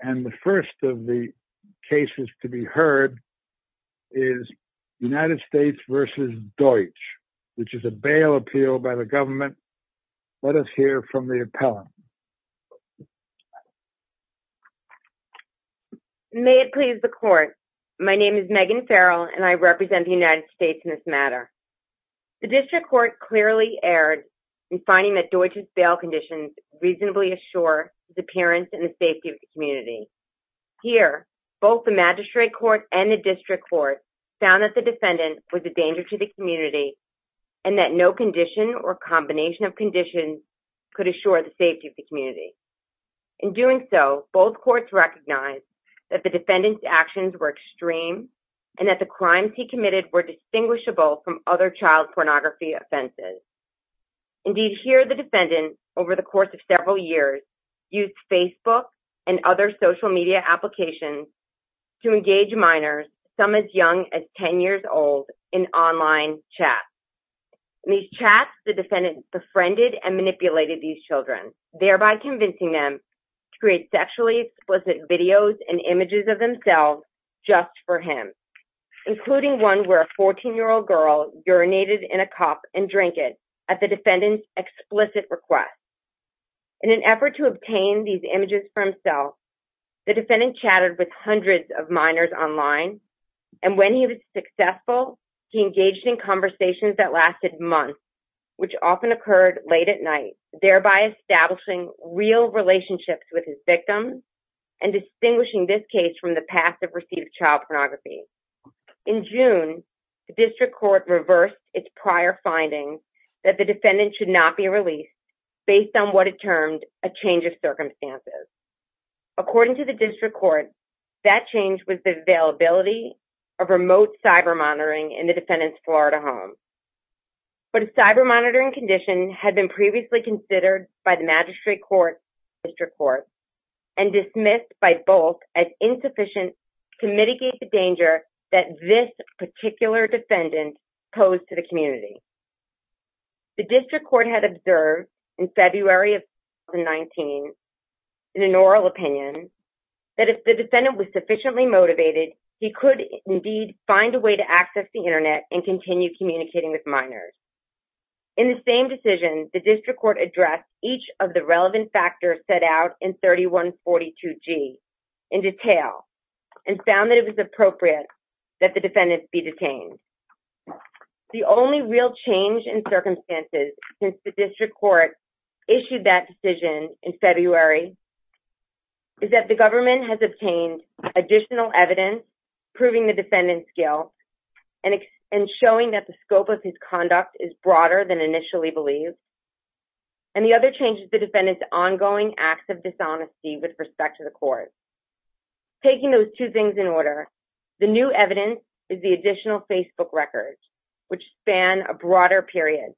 and the first of the cases to be heard is United States v. Deutsch, which is a bail appeal by the government. Let us hear from the appellant. May it please the court, my name is Megan Farrell and I represent the United States in this matter. The district court clearly erred in finding that Deutsch's bail conditions reasonably assure his appearance and the safety of the community. Here, both the magistrate court and the district court found that the defendant was a danger to the community and that no condition or combination of conditions could assure the safety of the community. In doing so, both courts recognized that the defendant's actions were extreme and that the crimes he committed were distinguishable from other child pornography offenses. Indeed, here the defendant, over the course of several years, used Facebook and other social media applications to engage minors, some as young as 10 years old, in online chats. In these chats, the defendant befriended and manipulated these children, thereby convincing them to create sexually explicit videos and images of themselves just for him, including one where a minor was drunk and drunken at the defendant's explicit request. In an effort to obtain these images for himself, the defendant chatted with hundreds of minors online and when he was successful, he engaged in conversations that lasted months, which often occurred late at night, thereby establishing real relationships with his victims and distinguishing this case from the past that the defendant should not be released based on what it termed a change of circumstances. According to the district court, that change was the availability of remote cyber monitoring in the defendant's Florida home. But a cyber monitoring condition had been previously considered by the magistrate court, district court, and dismissed by both as insufficient to mitigate the danger that this particular defendant posed to the community. The district court had observed in February of 2019, in an oral opinion, that if the defendant was sufficiently motivated, he could indeed find a way to access the internet and continue communicating with minors. In the same decision, the district court addressed each of the relevant factors set out in 3142g in detail and found that it was appropriate that the defendant be detained. The only real change in circumstances since the district court issued that decision in February is that the government has obtained additional evidence proving the defendant's guilt and showing that the scope of his conduct is broader than initially believed. And the other change is the defendant's ongoing acts of dishonesty with respect to the court. Taking those two things in order, the new evidence is the additional Facebook records, which span a broader period.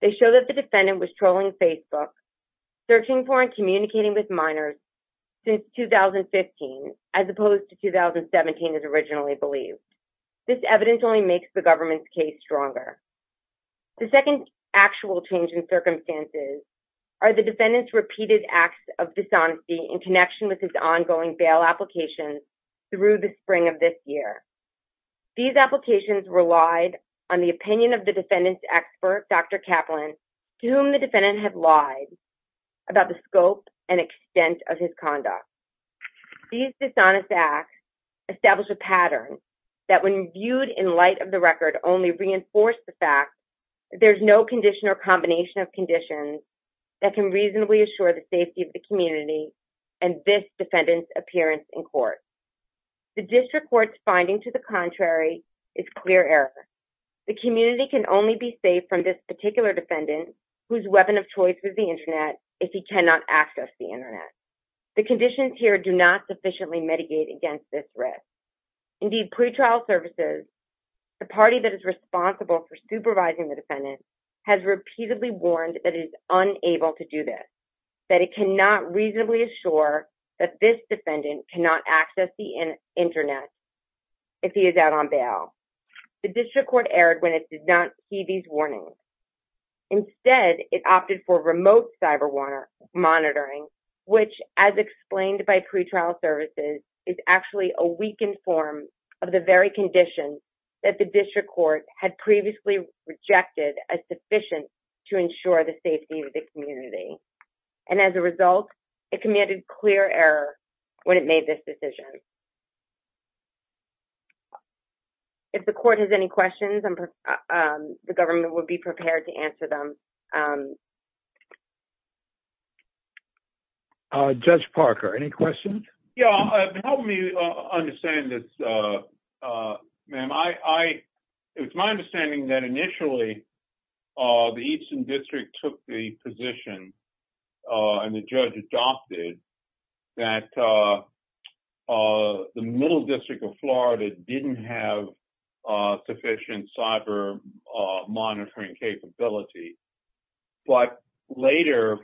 They show that the defendant was trolling Facebook, searching for and communicating with minors since 2015, as opposed to 2017 as originally believed. This evidence only makes the government's case stronger. The second actual change in circumstances are the defendant's repeated acts of dishonesty in connection with his ongoing bail applications through the spring of this year. These applications relied on the opinion of the defendant's expert, Dr. Kaplan, to whom the defendant had lied about the scope and extent of his conduct. These dishonest acts establish a pattern that when viewed in light of the record only reinforced the fact that there's no condition or combination of conditions that can reasonably assure the safety of the community and this defendant's appearance in court. The district court's finding to the contrary is clear error. The community can only be safe from this particular defendant whose weapon of choice is the internet if he cannot access the internet. The conditions here do not sufficiently mitigate against this risk. Indeed, pretrial services, the party that is responsible for supervising the defendant, has repeatedly warned that it is unable to do this, that it cannot reasonably assure that this defendant cannot access the internet if he is out on bail. The district court erred when it did not see these warnings. Instead, it opted for remote cyber monitoring, which, as explained by pretrial services, is actually a weakened form of the very conditions that the district court had previously rejected as sufficient to ensure the safety of the community. And as a result, it commanded clear error when it made this decision. If the court has any questions, the government will be prepared to answer them. Judge Parker, any questions? Yeah, help me understand this, ma'am. It's my understanding that initially, the Eastern District took the position and the judge adopted that the Middle District of Florida didn't have sufficient cyber monitoring capability. But later,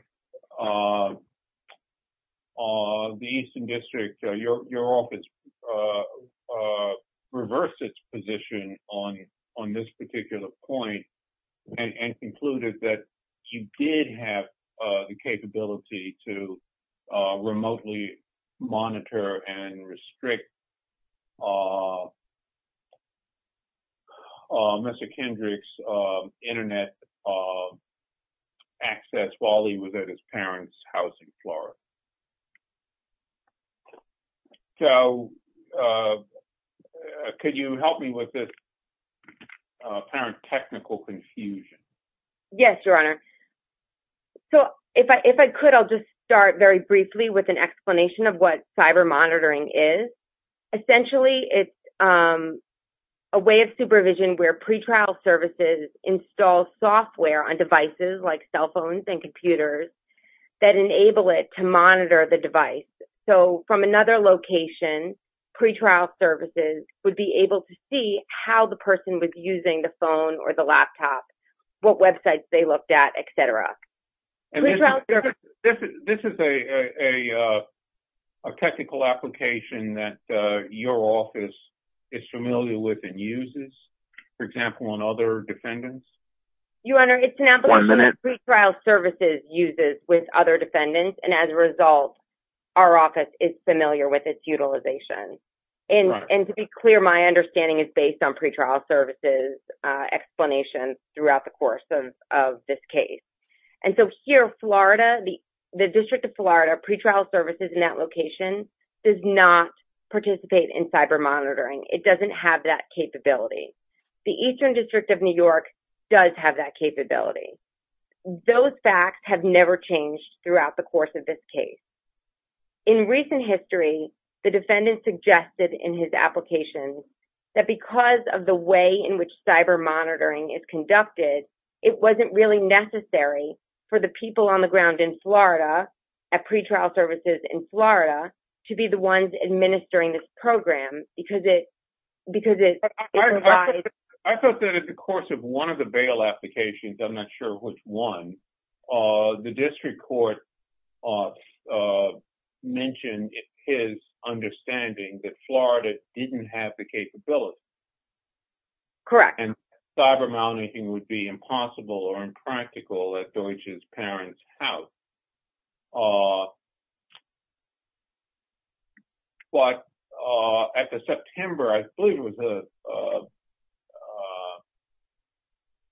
the Eastern District, your office reversed its position on this particular point and concluded that you did have the capability to remotely monitor and restrict Mr. Kendrick's internet access while he was at his parents' house in Florida. So, could you help me with this apparent technical confusion? Yes, Your Honor. So, if I could, I'll just start very briefly with an explanation of what cyber monitoring is. Essentially, it's a way of supervision where pretrial services install software on devices like cell phones and computers that enable it to monitor the device. So, from another location, pretrial services would be able to see how the person was using the phone or the laptop, what websites they looked at, et cetera. This is a technical application that your office is familiar with and uses, for example, on other defendants? Your Honor, it's an application that pretrial services uses with other defendants. And as a result, our office is familiar with its utilization. And to be clear, my understanding is based on pretrial services explanations throughout the course of this case. And so, here, Florida, the District of Florida, pretrial services in that location does not participate in cyber monitoring. It doesn't have that capability. The Eastern District of New York does have that capability. Those facts have never changed throughout the course of this case. In recent history, the defendant suggested in his application that because of the way in which cyber monitoring is conducted, it wasn't really necessary for the people on the ground in Florida, at pretrial services in Florida, to be the ones administering this program, because it... I thought that in the course of one of the bail applications, I'm not sure which one, the district court mentioned his understanding that Florida didn't have the capability. Correct. And cyber monitoring would be impossible or impractical at Deutsch's parents' house. But at the September, I believe it was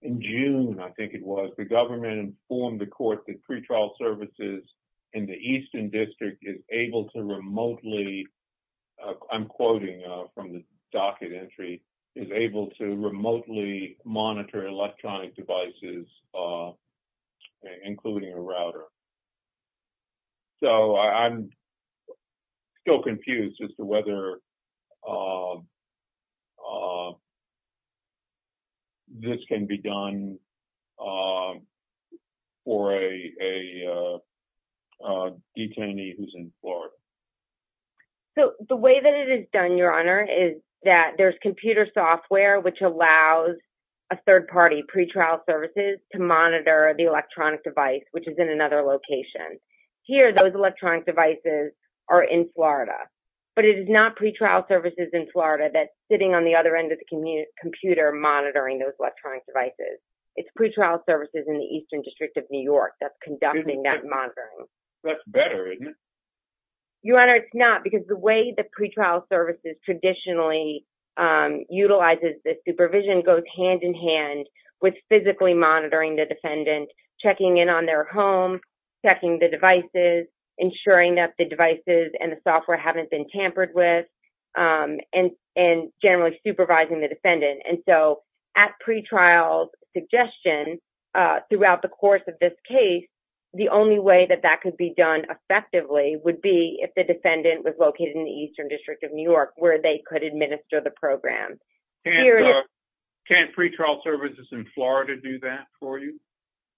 in June, I think it was, the government informed the court that pretrial services in the Eastern District is able to remotely... I'm quoting from the docket entry, is able to remotely monitor electronic devices, including a router. So I'm still confused as to whether this can be done for a detainee who's in Florida. So the way that it is done, Your Honor, is that there's computer software which allows a third party, pretrial services, to monitor the electronic device, which is in another location. Here, those electronic devices are in Florida, but it is not pretrial services in Florida that's sitting on the other end of the computer monitoring those electronic devices. It's pretrial services in the Eastern District of New York that's conducting that monitoring. That's better, isn't it? Your Honor, it's not, because the way the pretrial services traditionally utilizes this supervision goes hand in hand with physically monitoring the defendant, checking in on their home, checking the devices, ensuring that the devices and the software haven't been tampered with, and generally supervising the defendant. And so at pretrial suggestion throughout the course of this case, the only way that that could be done effectively would be if the defendant was located in the Eastern District of New York where they could administer the program. Can't pretrial services in Florida do that for you?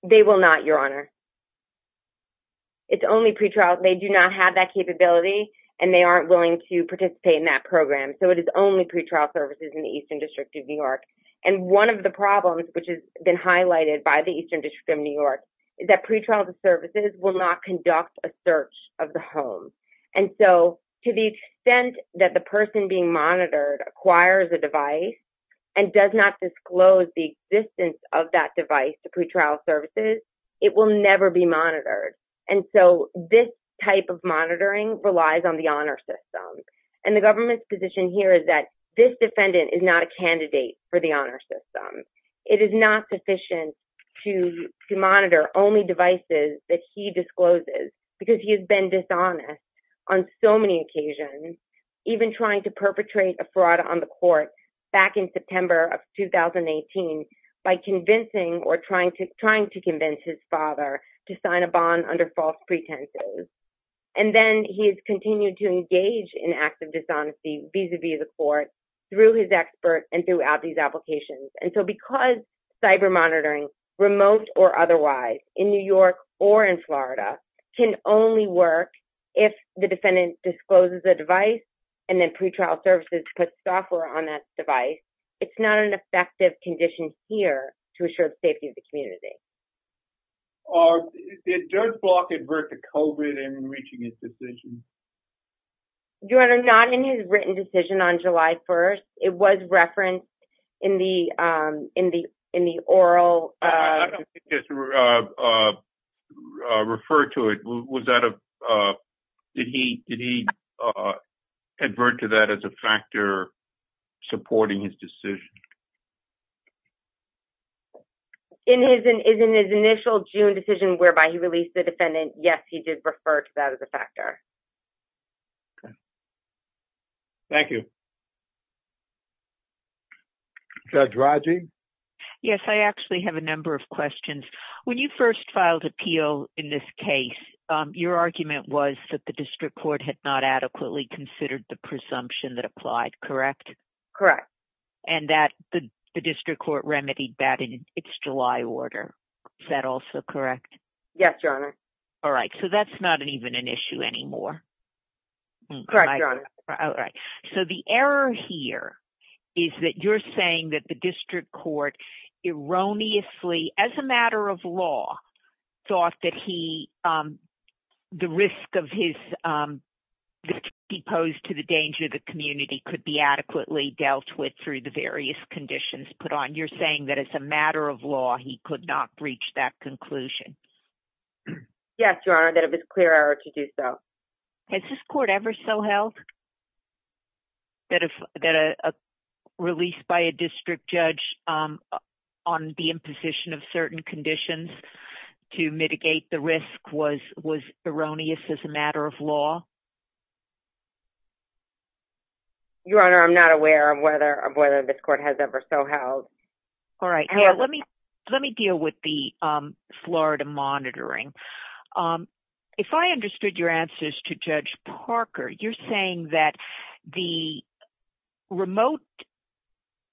They will not, Your Honor. It's only pretrial, they do not have that capability and they aren't willing to participate in that program, so it is only pretrial services in the Eastern District of New York. And one of the problems, which has been highlighted by the Eastern District of New York, is that pretrial services will not conduct a search of the home. And so to the extent that the person being monitored acquires a device and does not disclose the existence of that device to pretrial services, it will never be monitored. And so this type of monitoring relies on the honor system. And the government's position here is that this defendant is not a candidate for the honor system. It is not sufficient to monitor only devices that he discloses because he has been dishonest on so many occasions, even trying to perpetrate a fraud on the court back in September of 2018 by convincing or trying to convince his father to sign a bond under false pretenses. And then he has continued to engage in acts of dishonesty vis-a-vis the court through his expert and throughout these applications. And so because cyber monitoring, remote or otherwise, in New York or in Florida can only work if the defendant discloses a device and then pretrial services put software on that device, it's not an effective condition here to assure the safety of the community. It does block advert to COVID in reaching his decision. Your Honor, not in his written decision on July 1st. It was referenced in the oral. I don't think it's referred to it. Was that a did he did he advert to that as a factor supporting his decision? In his in his initial June decision whereby he released the defendant. Yes, he did refer to that as a factor. Okay. Thank you. Judge Rodger. Yes, I actually have a number of questions. When you first filed appeal in this case, your argument was that the district court had not adequately considered the presumption that applied, correct? Correct. And that the district court remedied that in its July order. Is that also correct? Yes, Your Honor. All right. So that's not even an issue anymore. Correct, Your Honor. All right. So the error here is that you're saying that the district court erroneously, as a matter of law, thought that he the risk of his deposed to the danger of the community could be adequately dealt with through the various conditions put on. You're saying that as a matter of law, he could not reach that conclusion. Yes, Your Honor, that it was clear error to do so. Has this court ever so held? That if that a released by a district judge on the imposition of certain conditions to mitigate the risk was was erroneous as a matter of law. Your Honor, I'm not aware of whether of whether this court has ever so held. All right. Yeah, let me let me deal with the Florida monitoring. Um, if I understood your answers to Judge Parker, you're saying that the remote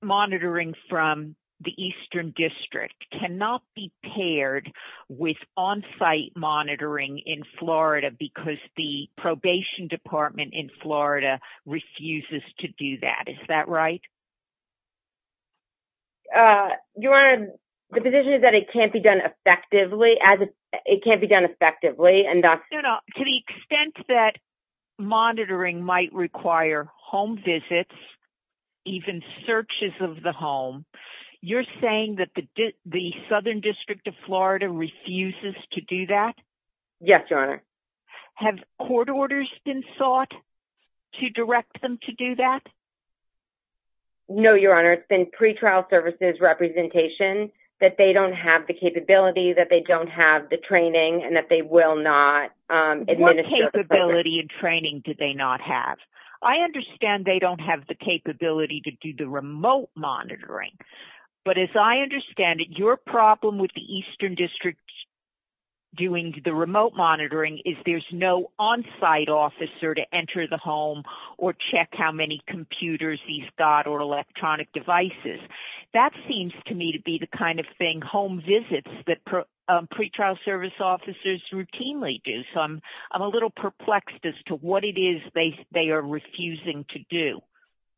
monitoring from the eastern district cannot be paired with on site monitoring in Florida because the probation department in Florida refuses to do that. Is that right? Your Honor, the position is that it can't be done effectively as it can't be done effectively. And to the extent that monitoring might require home visits, even searches of the home, you're saying that the southern district of Florida refuses to do that. Yes, Your Honor. Have court orders been sought to direct them to do that? No, Your Honor. It's been pretrial services representation that they don't have the capability that they don't have the training and that they will not. What capability and training do they not have? I understand they don't have the capability to do the remote monitoring. But as I understand it, your problem with the eastern district doing the remote monitoring is there's no on site officer to enter the home or check how many computers he's got or electronic devices. That seems to me to be the kind of thing home visits that pretrial service officers routinely do. So I'm a little perplexed as to what it is they are refusing to do.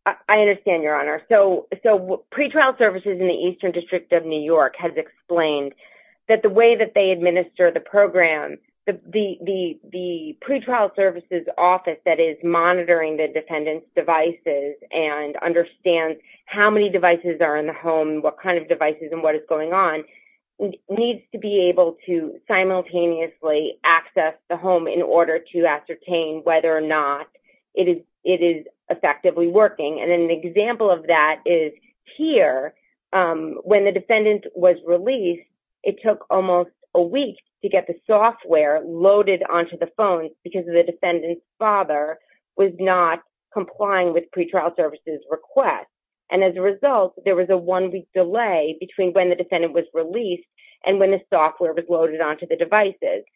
I understand, Your Honor. So pretrial services in the eastern district of New York has explained that the way that they administer the program, the pretrial services office that is monitoring the defendant's devices and understands how many devices are in the home, what kind of devices and what is going on, needs to be able to simultaneously access the home in order to ascertain whether or not it is effectively working. And an example of that is here. When the defendant was released, it took almost a week to get the software loaded onto the phone because the defendant's father was not complying with pretrial services request. And as a result, there was a one week delay between when the defendant was released and when the software was loaded onto the devices.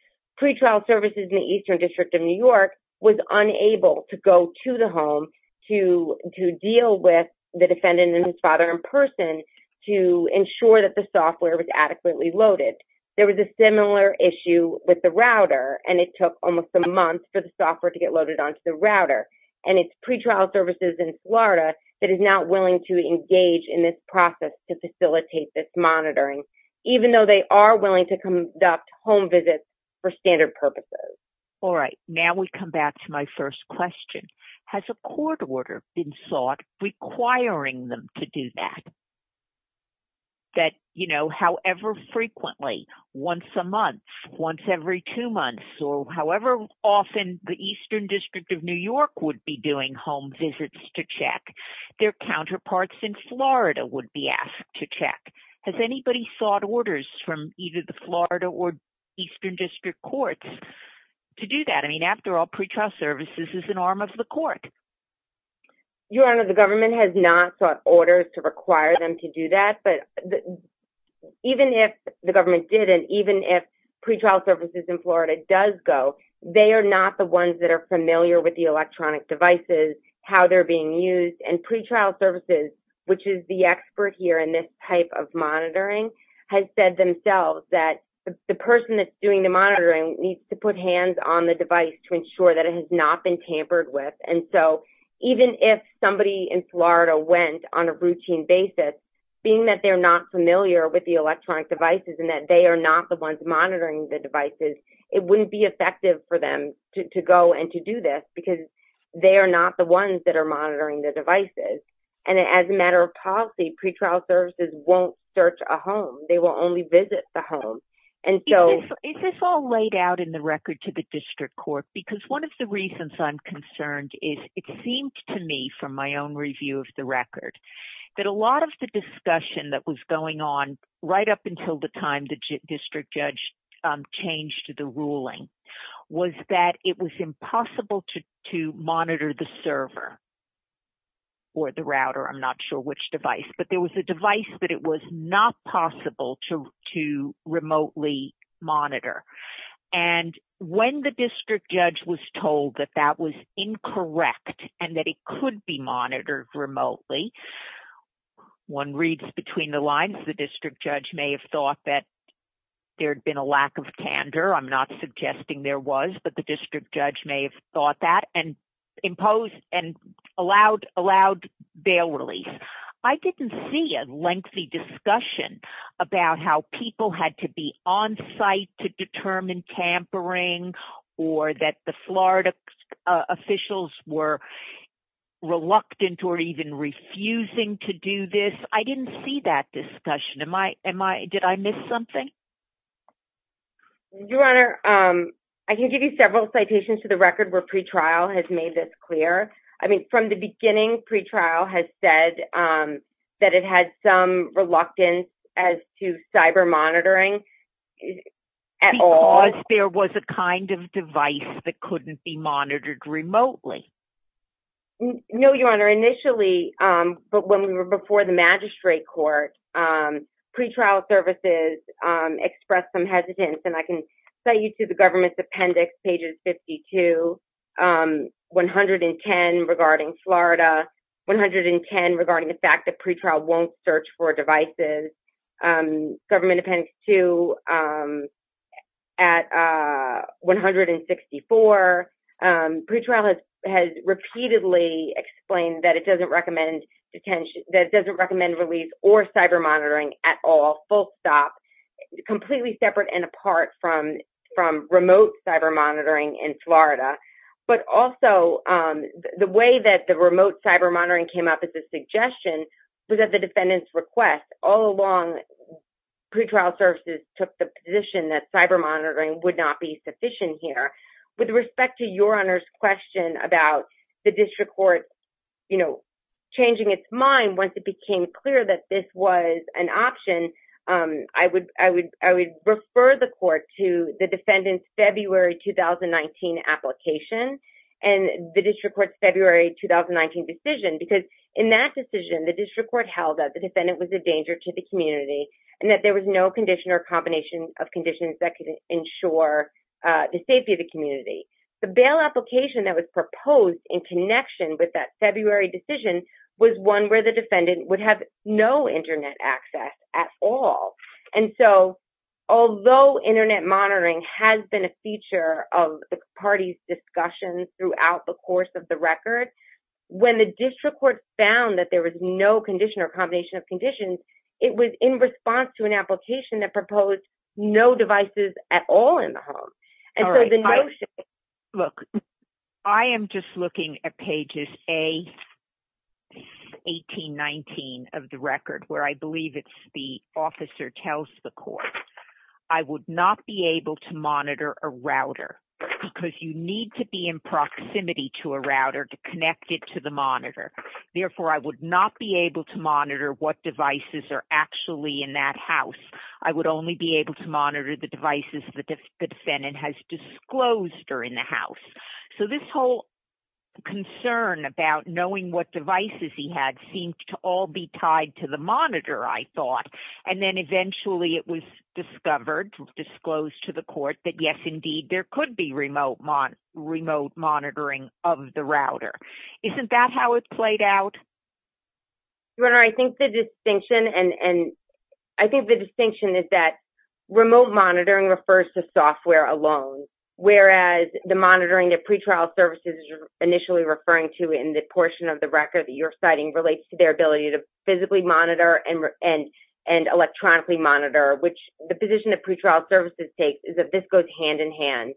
Pretrial services in the eastern district of New York was unable to go to the home to deal with the defendant and his father in person to ensure that the software was adequately loaded. There was a similar issue with the router and it took almost a month for the software to get loaded onto the router. And it's pretrial services in Florida that is not willing to engage in this process to facilitate this monitoring, even though they are willing to conduct home visits for standard purposes. All right. Now we come back to my first question. Has a court order been sought requiring them to do that? That, you know, however frequently, once a month, once every two months, or however often the eastern district of New York would be doing home visits to check, their counterparts in Florida would be asked to check. Has anybody sought orders from either the Florida or eastern district courts to do that? I mean, after all, pretrial services is an arm of the court. Your Honor, the government has not sought orders to require them to do that. But even if the government didn't, even if pretrial services in Florida does go, they are not the ones that are familiar with the electronic devices, how they're being used. And pretrial services, which is the expert here in this type of monitoring, has said themselves that the person that's doing the monitoring needs to put hands on the device to ensure that it has not been tampered with. And so even if somebody in Florida went on a routine basis, being that they're not familiar with the electronic devices and that they are not the ones monitoring the devices, it wouldn't be effective for them to go and to do this, because they are not the ones that are monitoring the devices. And as a matter of policy, pretrial services won't search a home. They will only visit the home. And so— Is this all laid out in the record to the district court? Because one of the reasons I'm concerned is it seemed to me from my own review of the record that a lot of the discussion that was going on right up until the time the district judge changed the ruling was that it was impossible to monitor the server or the router. I'm not sure which device, but there was a device that it was not possible to remotely monitor. And when the district judge was told that that was incorrect and that it could be monitored remotely, one reads between the lines, the district judge may have thought that there had been a lack of candor. I'm not suggesting there was, but the district judge may have thought that and allowed bail release. I didn't see a lengthy discussion about how people had to be on site to determine tampering or that the Florida officials were reluctant or even refusing to do this. I didn't see that discussion. Did I miss something? Your Honor, I can give you several citations to the record where pretrial has made this clear. From the beginning, pretrial has said that it had some reluctance as to cyber monitoring at all. Because there was a kind of device that couldn't be monitored remotely? No, Your Honor. Initially, but when we were before the magistrate court, pretrial services expressed some Florida, 110 regarding the fact that pretrial won't search for devices, government appendix two at 164. Pretrial has repeatedly explained that it doesn't recommend release or cyber monitoring at all, full stop, completely separate and apart from remote cyber monitoring in Florida. But also, the way that the remote cyber monitoring came up as a suggestion was at the defendant's request. All along, pretrial services took the position that cyber monitoring would not be sufficient here. With respect to Your Honor's question about the district court changing its mind once it became clear that this was an option, I would refer the court to the defendant's February 2019 application and the district court's February 2019 decision. Because in that decision, the district court held that the defendant was a danger to the community and that there was no condition or combination of conditions that could ensure the safety of the community. The bail application that was proposed in connection with that February decision was one where the defendant would have no internet access at all. And so, although internet monitoring has been a feature of the party's discussion throughout the course of the record, when the district court found that there was no condition or combination of conditions, it was in response to an application that proposed no devices at all in the home. Look, I am just looking at pages A, 18, 19 of the record, where I believe it's the officer tells the court, I would not be able to monitor a router because you need to be in proximity to a router to connect it to the monitor. Therefore, I would not be able to monitor what devices are actually in that house. I would only be able to monitor the devices the defendant has disclosed are in the house. So this whole concern about knowing what devices he had seemed to all be tied to the monitor, I thought. And then eventually, it was discovered, disclosed to the court that, yes, indeed, there could be remote monitoring of the router. Isn't that how it played out? Your Honor, I think the distinction is that remote monitoring refers to software alone, whereas the monitoring that pretrial services are initially referring to in the portion of the record that you're citing relates to their ability to physically monitor and electronically monitor, which the position of pretrial services takes is that this goes hand in hand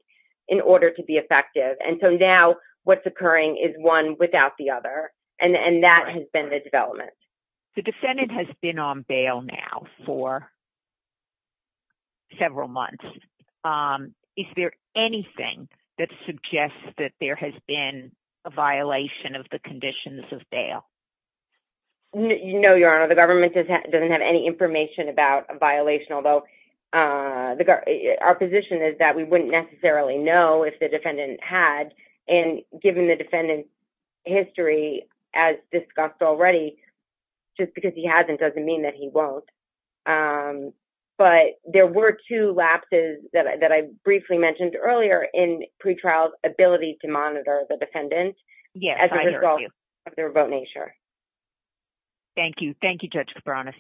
in order to be effective. And so now what's occurring is one without the other. And that has been the development. The defendant has been on bail now for several months. Is there anything that suggests that there has been a violation of the conditions of bail? No, Your Honor. The government doesn't have any information about a violation, although our position is that we wouldn't necessarily know if the defendant had. And given the defendant's history, as discussed already, just because he hasn't doesn't mean that he won't. But there were two lapses that I briefly mentioned earlier in pretrial's ability to monitor the measure. Thank you. Thank you, Judge Kibanis.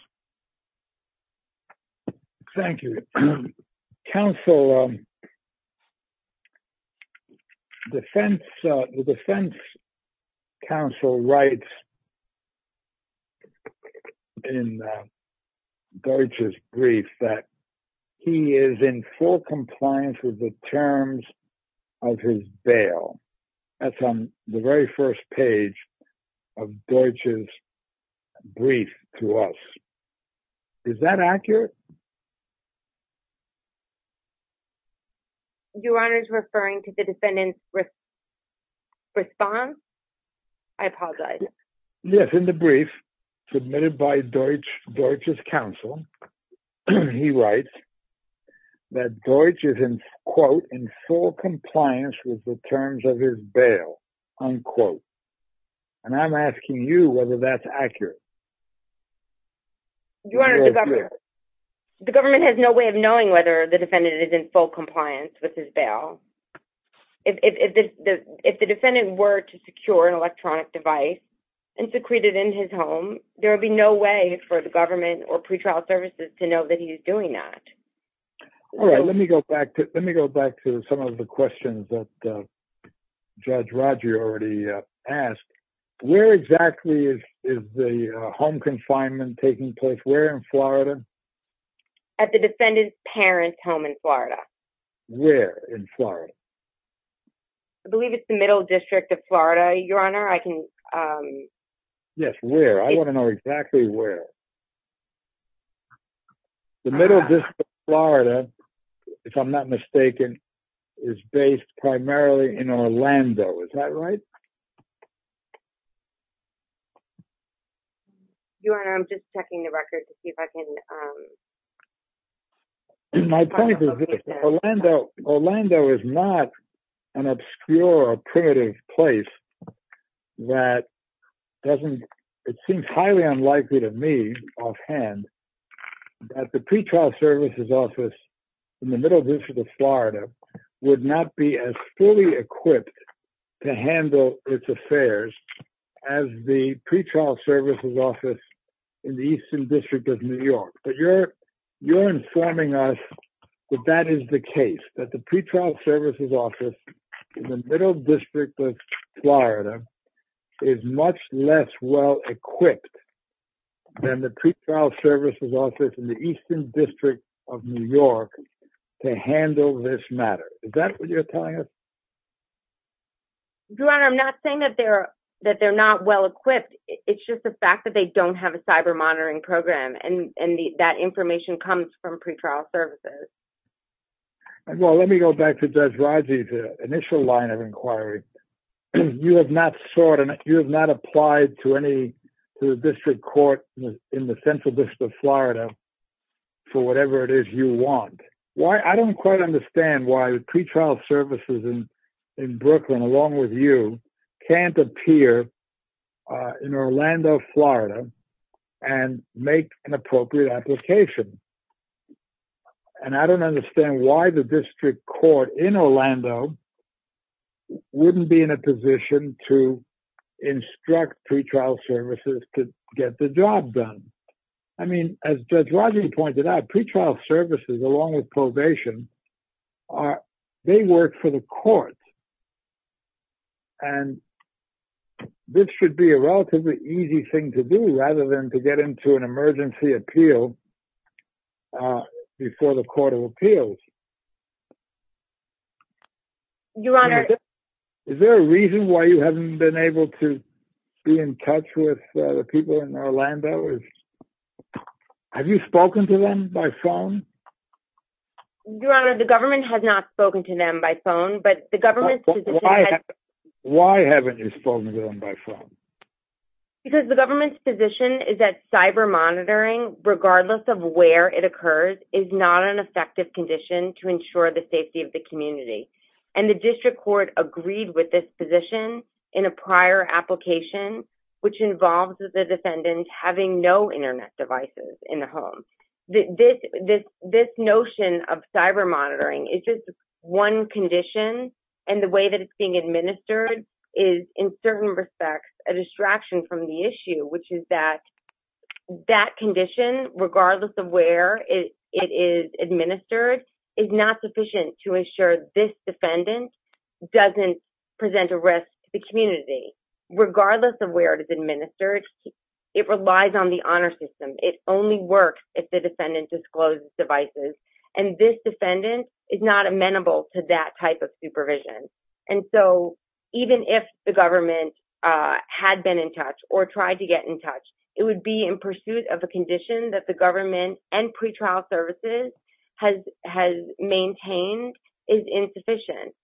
Thank you, counsel. The defense counsel writes in Deutsch's brief that he is in full compliance with the terms of his bail. That's on the very first page of Deutsch's brief to us. Is that accurate? Your Honor is referring to the defendant's response? I apologize. Yes, in the brief submitted by Deutsch's counsel, he writes that Deutsch is in, quote, in full compliance with the terms of his bail, unquote. And I'm asking you whether that's accurate. Your Honor, the government has no way of knowing whether the defendant is in full compliance with his bail. If the defendant were to secure an electronic device and secrete it in his home, there would be no way for the government or pretrial services to know that he is doing that. All right. Let me go back to some of the questions that Judge Rodger already asked. Where exactly is the home confinement taking place? Where in Florida? At the defendant's parents' home in Florida. Where in Florida? I believe it's the Middle District of Florida, Your Honor. Yes, where? I want to know exactly where. The Middle District of Florida, if I'm not mistaken, is based primarily in Orlando. Is that right? Your Honor, I'm just checking the record to see if I can... My point is this. Orlando is not an obscure or primitive place that doesn't... Offhand, the pretrial services office in the Middle District of Florida would not be as fully equipped to handle its affairs as the pretrial services office in the Eastern District of New York. You're informing us that that is the case, that the pretrial services office in the Middle District of Florida is less well-equipped than the pretrial services office in the Eastern District of New York to handle this matter. Is that what you're telling us? Your Honor, I'm not saying that they're not well-equipped. It's just the fact that they don't have a cyber monitoring program, and that information comes from pretrial services. Well, let me go back to Judge Rodger's initial line of inquiry. You have not applied to the district court in the Central District of Florida for whatever it is you want. I don't quite understand why the pretrial services in Brooklyn, along with you, can't appear in Orlando, Florida and make an appropriate application. I don't understand why the district court in Orlando wouldn't be in a position to instruct pretrial services to get the job done. I mean, as Judge Rodger pointed out, pretrial services, along with probation, they work for the courts. This should be a relatively easy thing to do, rather than to get into an emergency appeal before the Court of Appeals. Your Honor. Is there a reason why you haven't been able to be in touch with the people in Orlando? Have you spoken to them by phone? Your Honor, the government has not spoken to them by phone, but the government's position Why haven't you spoken to them by phone? Because the government's position is that cyber monitoring, regardless of where it occurs, is not an effective condition to ensure the safety of the community. And the district court agreed with this position in a prior application, which involves the defendant having no internet devices in the home. This notion of cyber monitoring is just one condition, and the way that it's being the issue, which is that that condition, regardless of where it is administered, is not sufficient to ensure this defendant doesn't present a risk to the community. Regardless of where it is administered, it relies on the honor system. It only works if the defendant discloses devices, and this defendant is not amenable to that type of supervision. And so even if the government had been in touch or tried to get in touch, it would be in pursuit of a condition that the government and pretrial services has maintained is insufficient.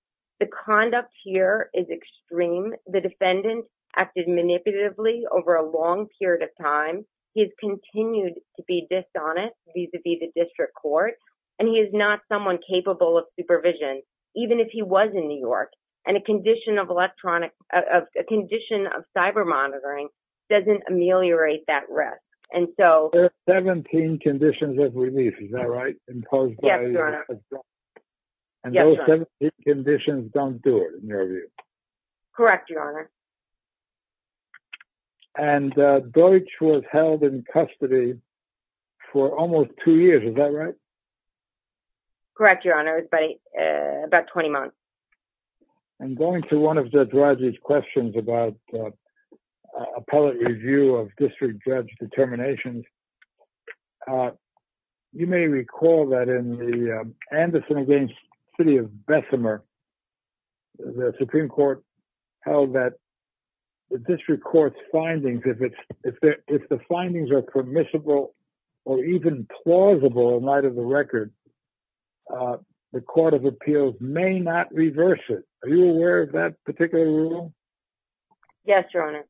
The conduct here is extreme. The defendant acted manipulatively over a long period of time. He has continued to be dishonest vis-a-vis the district court, and he is not someone capable of supervision, even if he was in New York. And a condition of electronic, a condition of cyber monitoring doesn't ameliorate that risk. And so there are 17 conditions of release. Is that right? Imposed by the government. And those 17 conditions don't do it, in your view. Correct, your honor. And Deutsch was held in custody for almost two years. Is that right? Correct, your honor, but about 20 months. I'm going to one of Judge Rodgers' questions about appellate review of district judge determinations. You may recall that in the Anderson v. City of Bessemer, the Supreme Court held that the district court's findings, if the findings are permissible or even plausible in light of the record, the court of appeals may not reverse it. Are you aware of that particular rule? Yes, your honor.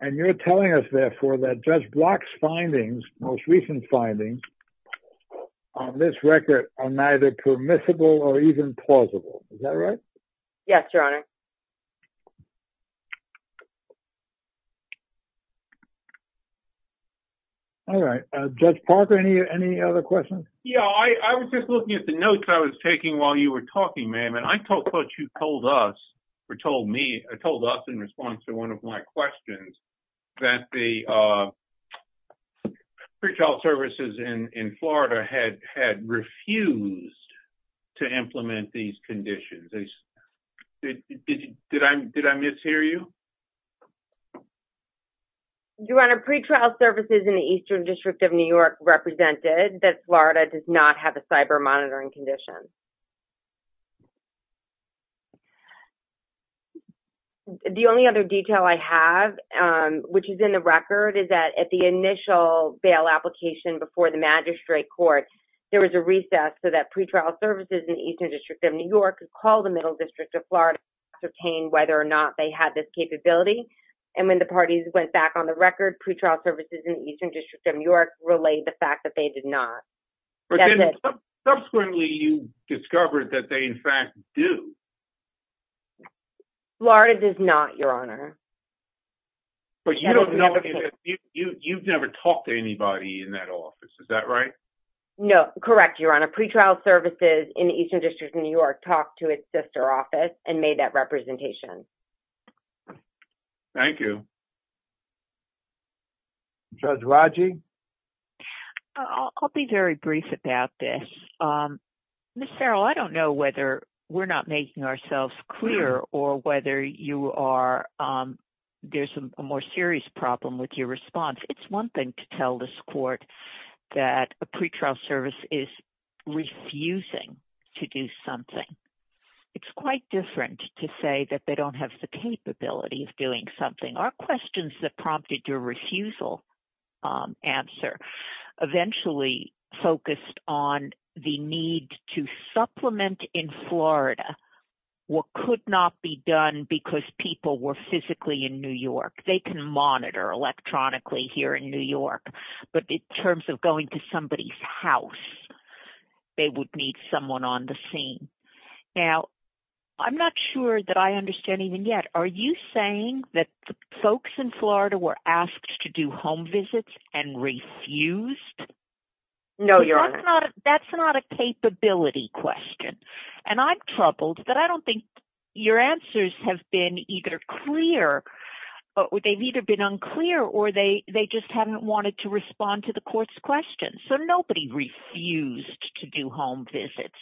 And you're telling us, therefore, that Judge Block's findings, most recent findings, on this record are neither permissible or even plausible. Is that right? Yes, your honor. All right, Judge Parker, any other questions? Yeah, I was just looking at the notes I was taking while you were talking, ma'am, and I took what you told us, or told me, or told us in response to one of my questions, that the pretrial services in Florida had refused to implement these conditions. Did I mishear you? Your honor, pretrial services in the Eastern District of New York represented that Florida does not have a cyber monitoring condition. The only other detail I have, which is in the record, is that at the initial bail application before the magistrate court, there was a recess so that pretrial services in the Eastern District of New York and all the Middle District of Florida could ascertain whether or not they had this capability. And when the parties went back on the record, pretrial services in the Eastern District of New York relayed the fact that they did not. Subsequently, you discovered that they, in fact, do. Florida does not, your honor. But you've never talked to anybody in that office, is that right? No, correct, your honor. Pretrial services in the Eastern District of New York talked to its sister office and made that representation. Thank you. Judge Raji? I'll be very brief about this. Ms. Farrell, I don't know whether we're not making ourselves clear or whether you are, there's a more serious problem with your response. It's one thing to tell this court that a pretrial service is refusing to do something. It's quite different to say that they don't have the capability of doing something. Our questions that prompted your refusal answer eventually focused on the need to supplement in Florida what could not be done because people were physically in New York. They can monitor electronically here in New York, but in terms of going to somebody's house, they would need someone on the scene. Now, I'm not sure that I understand even yet, are you saying that the folks in Florida were asked to do home visits and refused? No, your honor. That's not a capability question, and I'm troubled that I don't think your answers have been either clear, or they've either been unclear, or they just haven't wanted to respond to the court's questions. So, nobody refused to do home visits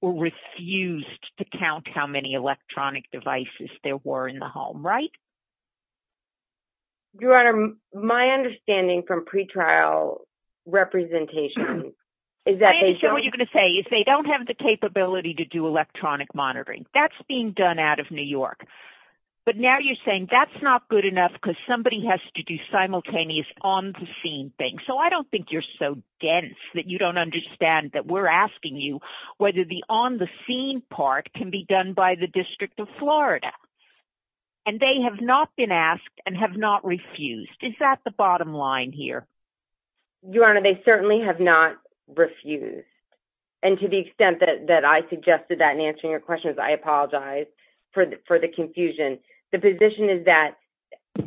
or refused to count how many electronic devices there were in the home, right? Your honor, my understanding from pretrial representation is that they don't have the capability to do electronic monitoring. That's being done out of New York, but now you're saying that's not good enough because somebody has to do simultaneous on-the-scene things. So, I don't think you're so dense that you don't understand that we're asking you whether the on-the-scene part can be done by the District of Florida, and they have not been asked and have not refused. Is that the bottom line here? Your honor, they certainly have not refused, and to the extent that I suggested that in my apology for the confusion, the position is that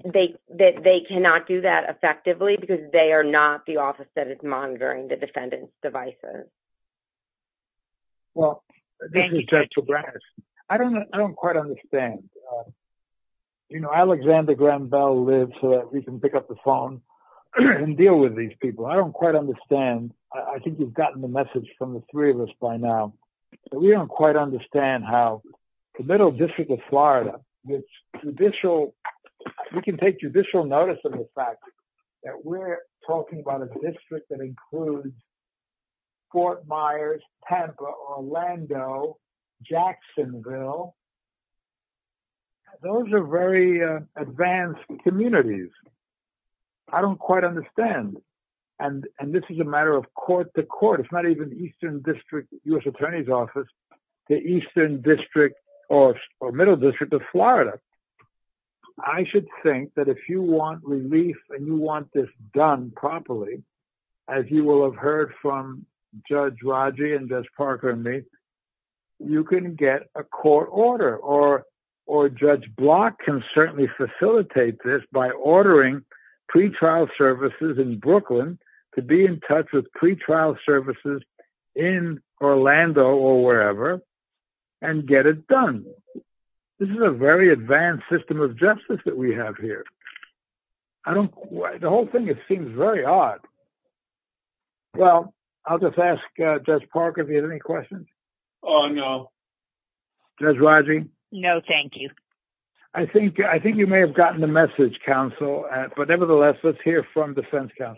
they cannot do that effectively because they are not the office that is monitoring the defendant's devices. Well, this is Judge Labrador. I don't quite understand. Alexander Graham Bell lives so that we can pick up the phone and deal with these people. I don't quite understand. I think you've gotten the message from the three of us by now, but we don't quite understand how the Middle District of Florida, we can take judicial notice of the fact that we're talking about a district that includes Fort Myers, Tampa, Orlando, Jacksonville. Those are very advanced communities. I don't quite understand, and this is a matter of court to court. It's not even the Eastern District U.S. Attorney's Office, the Eastern District or Middle District of Florida. I should think that if you want relief and you want this done properly, as you will have heard from Judge Raji and Judge Parker and me, you can get a court order, or Judge Block can certainly facilitate this by ordering pretrial services in Brooklyn to be in touch with pretrial services in Orlando or wherever and get it done. This is a very advanced system of justice that we have here. The whole thing, it seems very odd. Well, I'll just ask Judge Parker if he had any questions. Oh, no. Judge Raji? No, thank you. I think you may have gotten the message, counsel, but nevertheless, let's hear from Judge Clark.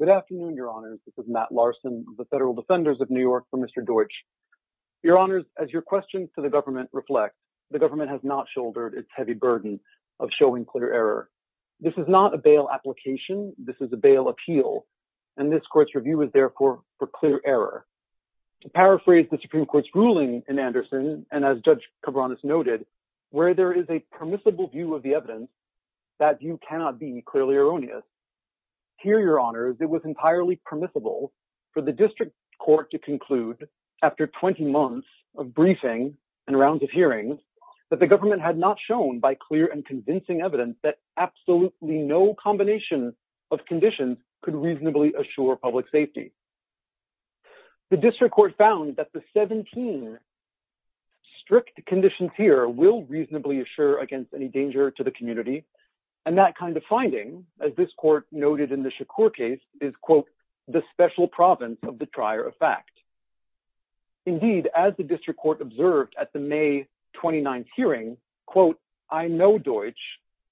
Good afternoon, Your Honors. This is Matt Larson of the Federal Defenders of New York for Mr. Deutsch. Your Honors, as your questions to the government reflect, the government has not shouldered its heavy burden of showing clear error. This is not a bail application. This is a bail appeal, and this court's review is therefore for clear error. To paraphrase the Supreme Court's ruling in Anderson, and as Judge Cabranes noted, where there is a permissible view of the evidence, that view cannot be clearly erroneous. Here, Your Honors, it was entirely permissible for the district court to conclude, after 20 months of briefing and rounds of hearings, that the government had not shown by clear and convincing evidence that absolutely no combination of conditions could reasonably assure public safety. The district court found that the 17 strict conditions here will reasonably assure against any danger to the community, and that kind of finding, as this court noted in the Shakur case, is, quote, the special province of the prior effect. Indeed, as the district court observed at the May 29th hearing, quote, I know Deutsch.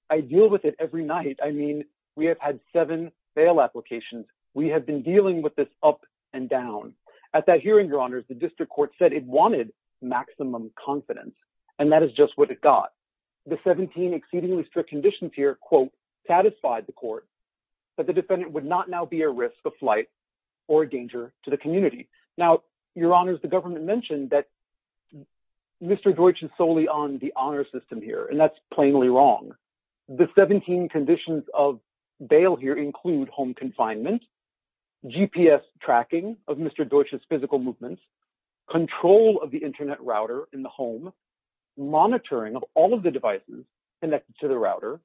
I deal with it every night. I mean, we have had seven bail applications. We have been dealing with this up and down. At that hearing, Your Honors, the district court said it wanted maximum confidence, and that is just what it got. The 17 exceedingly strict conditions here, quote, satisfied the court that the defendant would not now be at risk of flight or danger to the community. Now, Your Honors, the government mentioned that Mr. Deutsch is solely on the honor system here, and that's plainly wrong. The 17 conditions of bail here include home confinement, GPS tracking of Mr. Deutsch's physical movements, control of the internet router in the home, monitoring of all of the devices connected to the router,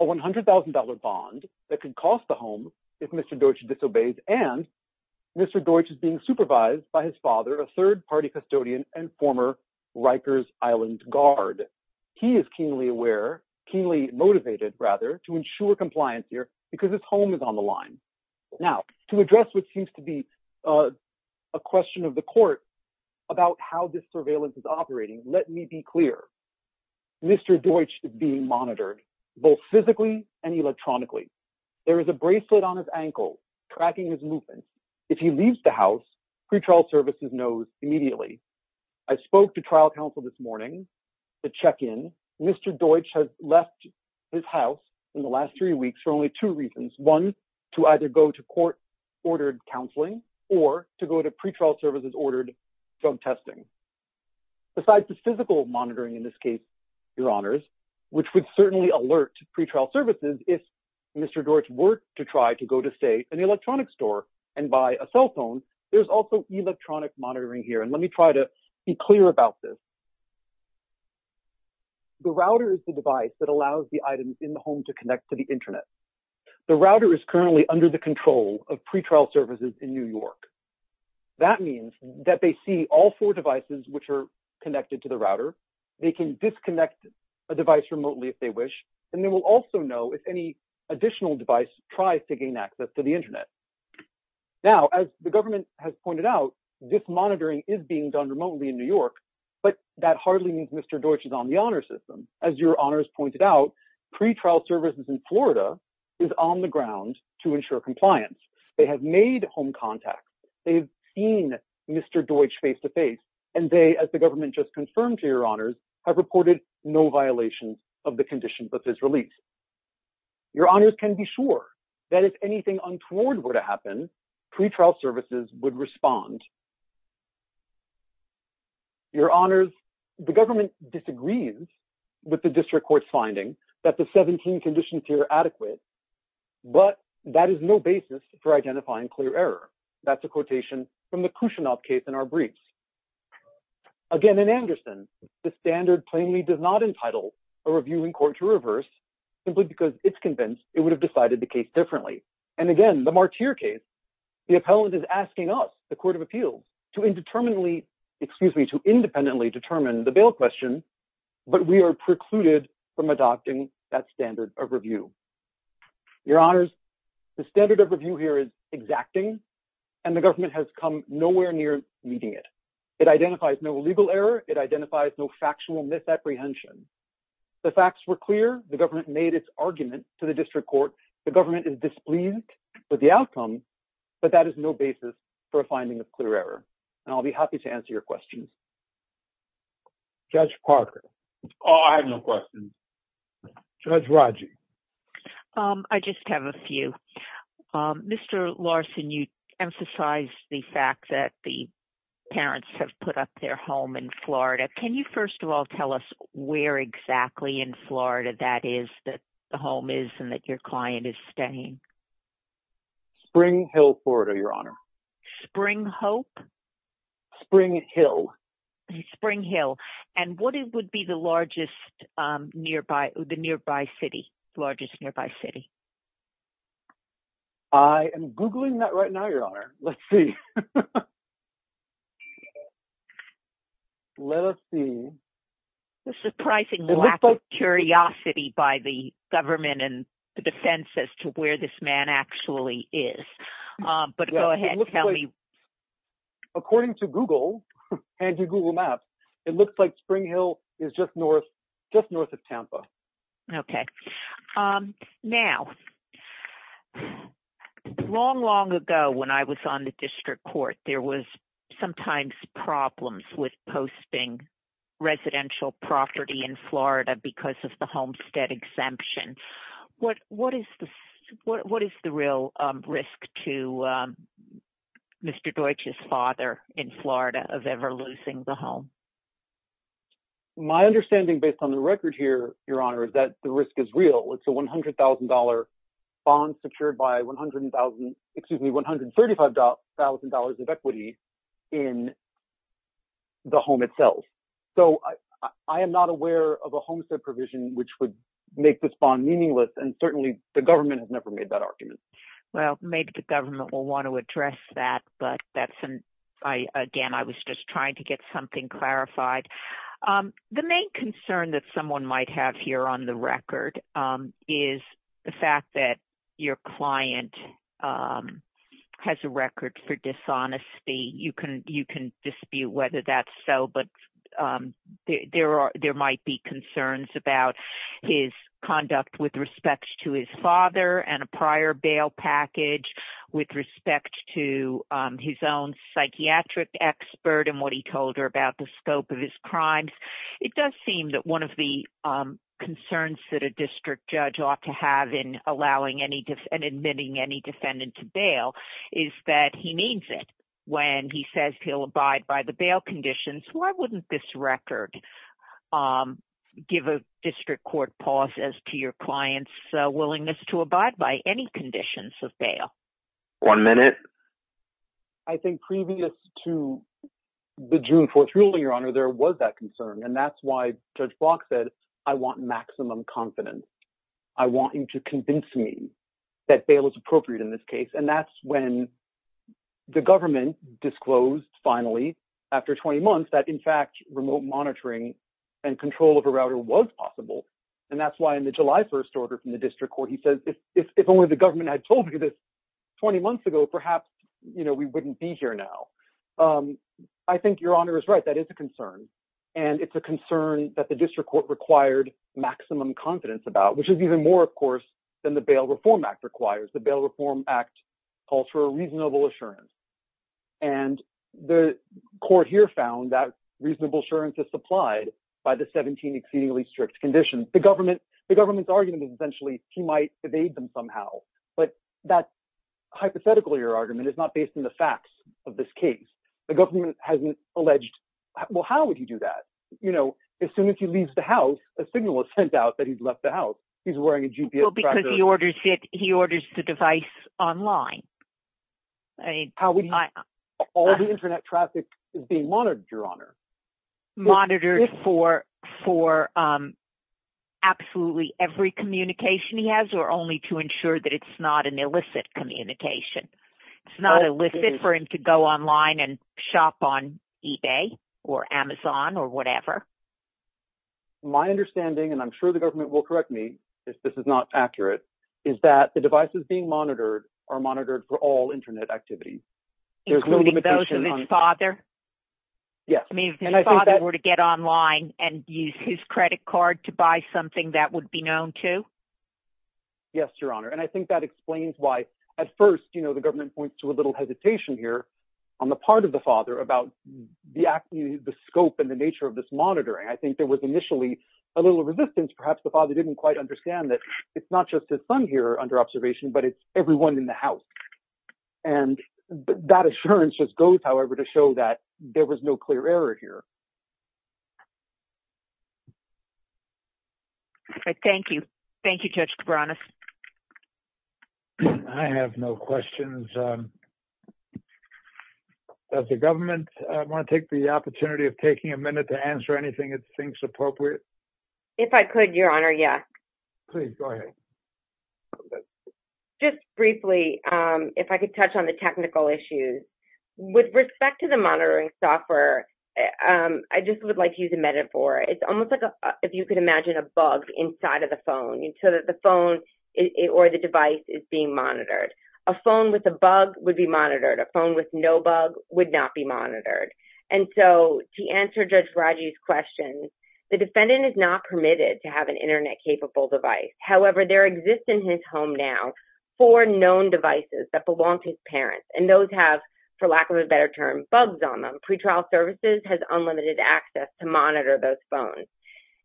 a $100,000 bond that could cost the home if Mr. Deutsch disobeys, and Mr. Deutsch is being supervised by his father, a third-party custodian and former Rikers Island guard. He is keenly aware, keenly motivated, rather, to ensure compliance here because his home is on the line. Now, to address what seems to be a question of the court about how this surveillance is operating, let me be clear. Mr. Deutsch is being monitored both physically and electronically. There is a bracelet on his ankle tracking his movements. If he leaves the house, pretrial services knows immediately. I spoke to trial counsel this morning, the check-in. Mr. Deutsch has left his house in the last three weeks for only two reasons, one, to either go to court-ordered counseling or to go to pretrial services-ordered drug testing. Besides the physical monitoring in this case, Your Honors, which would certainly alert pretrial services if Mr. Deutsch were to try to go to, say, an electronics store and buy a cell phone, there's also electronic monitoring here. Let me try to be clear about this. The router is the device that allows the items in the home to connect to the internet. The router is currently under the control of pretrial services in New York. That means that they see all four devices which are connected to the router. They can disconnect a device remotely if they wish, and they will also know if any additional device tries to gain access to the internet. Now, as the government has pointed out, this monitoring is being done remotely in New York, but that hardly means Mr. Deutsch is on the honor system. As Your Honors pointed out, pretrial services in Florida is on the ground to ensure compliance. They have made home contacts. They've seen Mr. Deutsch face-to-face, and they, as the government just confirmed to Your Honors, have reported no violation of the conditions of his release. Your Honors can be sure that if anything untoward were to happen, pretrial services would respond. Your Honors, the government disagrees with the district court's finding that the 17 conditions here are adequate, but that is no basis for identifying clear error. That's a quotation from the Khrushchev case in our briefs. Again, in Anderson, the standard plainly does not entitle a reviewing court to reverse simply because it's convinced it would have decided the case differently. And again, the Martyr case, the appellant is asking us, the Court of Appeals, to indeterminately, excuse me, to independently determine the bail question, but we are precluded from adopting that standard of review. Your Honors, the standard of review here is exacting, and the government has come nowhere near meeting it. It identifies no legal error. It identifies no factual misapprehension. The facts were clear. The government made its argument to the district court. The government is displeased with the outcome, but that is no basis for a finding of clear error. And I'll be happy to answer your questions. Judge Parker. Oh, I have no questions. Judge Raji. I just have a few. Can you first of all tell us where exactly in Florida that is, that the home is, and that your client is staying? Spring Hill, Florida, Your Honor. Spring Hope? Spring Hill. Spring Hill. And what would be the largest nearby, the nearby city, largest nearby city? I am Googling that right now, Your Honor. Let's see. The surprising lack of curiosity by the government and the defense as to where this man actually is. But go ahead and tell me. According to Google and your Google Maps, it looks like Spring Hill is just north, just north of Tampa. Okay. Um, now, long, long ago, when I was on the district court, there was sometimes problems with posting residential property in Florida because of the homestead exemption. What, what is the, what is the real risk to Mr. Deutsch's father in Florida of ever losing the home? My understanding based on the record here, Your Honor, is that the risk is real. It's a $100,000 bond secured by 100,000, excuse me, $135,000 of equity in the home itself. So I, I am not aware of a homestead provision which would make this bond meaningless. And certainly the government has never made that argument. Well, maybe the government will want to address that, but that's an, I, again, I was just trying to get something clarified. The main concern that someone might have here on the record is the fact that your client has a record for dishonesty. You can, you can dispute whether that's so, but there are, there might be concerns about his conduct with respect to his father and a prior bail package with respect to his own psychiatric expert and what he told her about the scope of his crimes. It does seem that one of the concerns that a district judge ought to have in allowing any and admitting any defendant to bail is that he needs it when he says he'll abide by the bail conditions. Why wouldn't this record give a district court pause as to your client's willingness to abide by any conditions of bail? One minute. I think previous to the June 4th ruling, your honor, there was that concern. And that's why judge Block said, I want maximum confidence. I want you to convince me that bail is appropriate in this case. And that's when the government disclosed finally after 20 months that in fact, remote monitoring and control of a router was possible. And that's why in the July 1st order from the district court, he says, if, if, if only the government had told me this 20 months ago, perhaps, you know, we wouldn't be here now. I think your honor is right. That is a concern. And it's a concern that the district court required maximum confidence about, which is even more, of course, than the Bail Reform Act requires. The Bail Reform Act calls for a reasonable assurance. And the court here found that reasonable assurance is supplied by the 17 exceedingly strict conditions. The government, the government's argument is essentially, he might evade them somehow. But that's hypothetical. Your argument is not based on the facts of this case. The government hasn't alleged. Well, how would you do that? You know, as soon as he leaves the house, a signal is sent out that he's left the house. He's wearing a GPS because he orders it. He orders the device online. All the internet traffic is being monitored, your honor. Monitored for absolutely every communication he has or only to ensure that it's not an illicit communication. It's not illicit for him to go online and shop on eBay or Amazon or whatever. My understanding, and I'm sure the government will correct me if this is not accurate, is that the devices being monitored are monitored for all internet activities. Including those of his father? Yes, I mean, if his father were to get online and use his credit card to buy something that would be known to. Yes, your honor. And I think that explains why at first, you know, the government points to a little hesitation here on the part of the father about the scope and the nature of this monitoring. I think there was initially a little resistance. Perhaps the father didn't quite understand that it's not just his son here under observation, but it's everyone in the house. And that assurance just goes, however, to show that there was no clear error here. Thank you. Thank you, Judge Cabranes. I have no questions. Does the government want to take the opportunity of taking a minute to answer anything it thinks appropriate? If I could, your honor, yes. Please go ahead. Just briefly, if I could touch on the technical issues. With respect to the monitoring software, I just would like to use a metaphor. It's almost like if you could imagine a bug inside of the phone, so that the phone or the device is being monitored. A phone with a bug would be monitored. A phone with no bug would not be monitored. And so to answer Judge Raji's question, the defendant is not permitted to have an internet capable device. However, there exists in his home now four known devices that belong to his parents. And those have, for lack of a better term, bugs on them. Pretrial services has unlimited access to monitor those phones.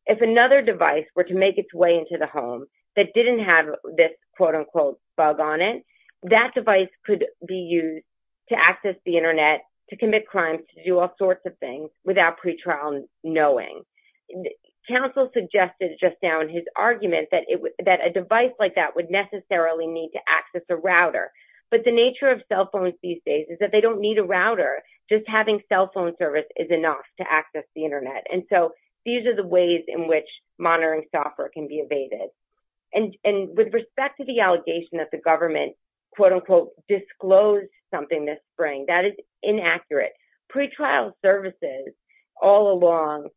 If another device were to make its way into the home that didn't have this quote unquote bug on it, that device could be used to access the internet, to commit crimes, to do all sorts of things without pretrial knowing. Counsel suggested just now in his argument that a device like that would necessarily need to access a router. But the nature of cell phones these days is that they don't need a router. Just having cell phone service is enough to access the internet. And so these are the ways in which monitoring software can be evaded. And with respect to the allegation that the government quote unquote disclosed something this spring, that is inaccurate. Pretrial services all along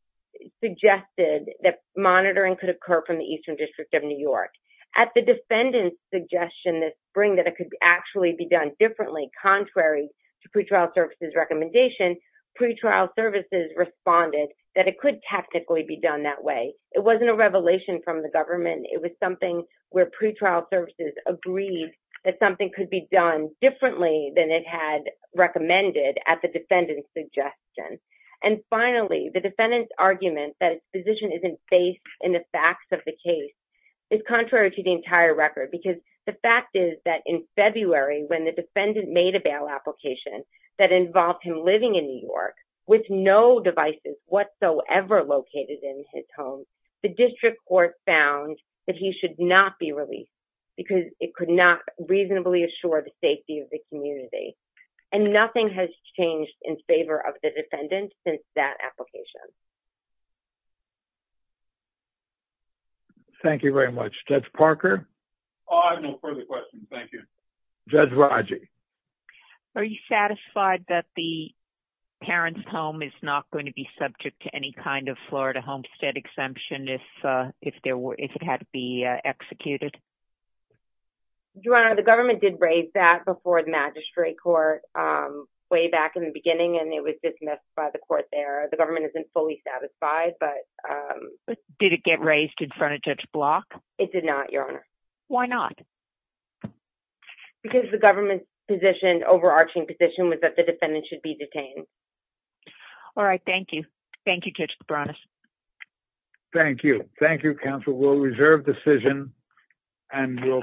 suggested that monitoring could occur from the Eastern District of New York. At the defendant's suggestion this spring that it could actually be done differently contrary to pretrial services recommendation, pretrial services responded that it could technically be done that way. It wasn't a revelation from the government. It was something where pretrial services agreed that something could be done differently than it had recommended at the defendant's suggestion. And finally, the defendant's argument that his position isn't based in the facts of the case is contrary to the entire record. Because the fact is that in February when the defendant made a bail application that involved him living in New York with no devices whatsoever located in his home, the district court found that he should not be released because it could not reasonably assure the community. And nothing has changed in favor of the defendant since that application. Thank you very much. Judge Parker? I have no further questions. Thank you. Judge Raji? Are you satisfied that the parent's home is not going to be subject to any kind of Florida homestead exemption if it had to be executed? Your Honor, the government did raise that before the magistrate court way back in the beginning and it was dismissed by the court there. The government isn't fully satisfied, but... Did it get raised in front of Judge Block? It did not, Your Honor. Why not? Because the government's position, overarching position, was that the defendant should be detained. All right. Thank you. Thank you, Judge Cabranes. Thank you. Thank you, counsel. We'll reserve decision and we'll...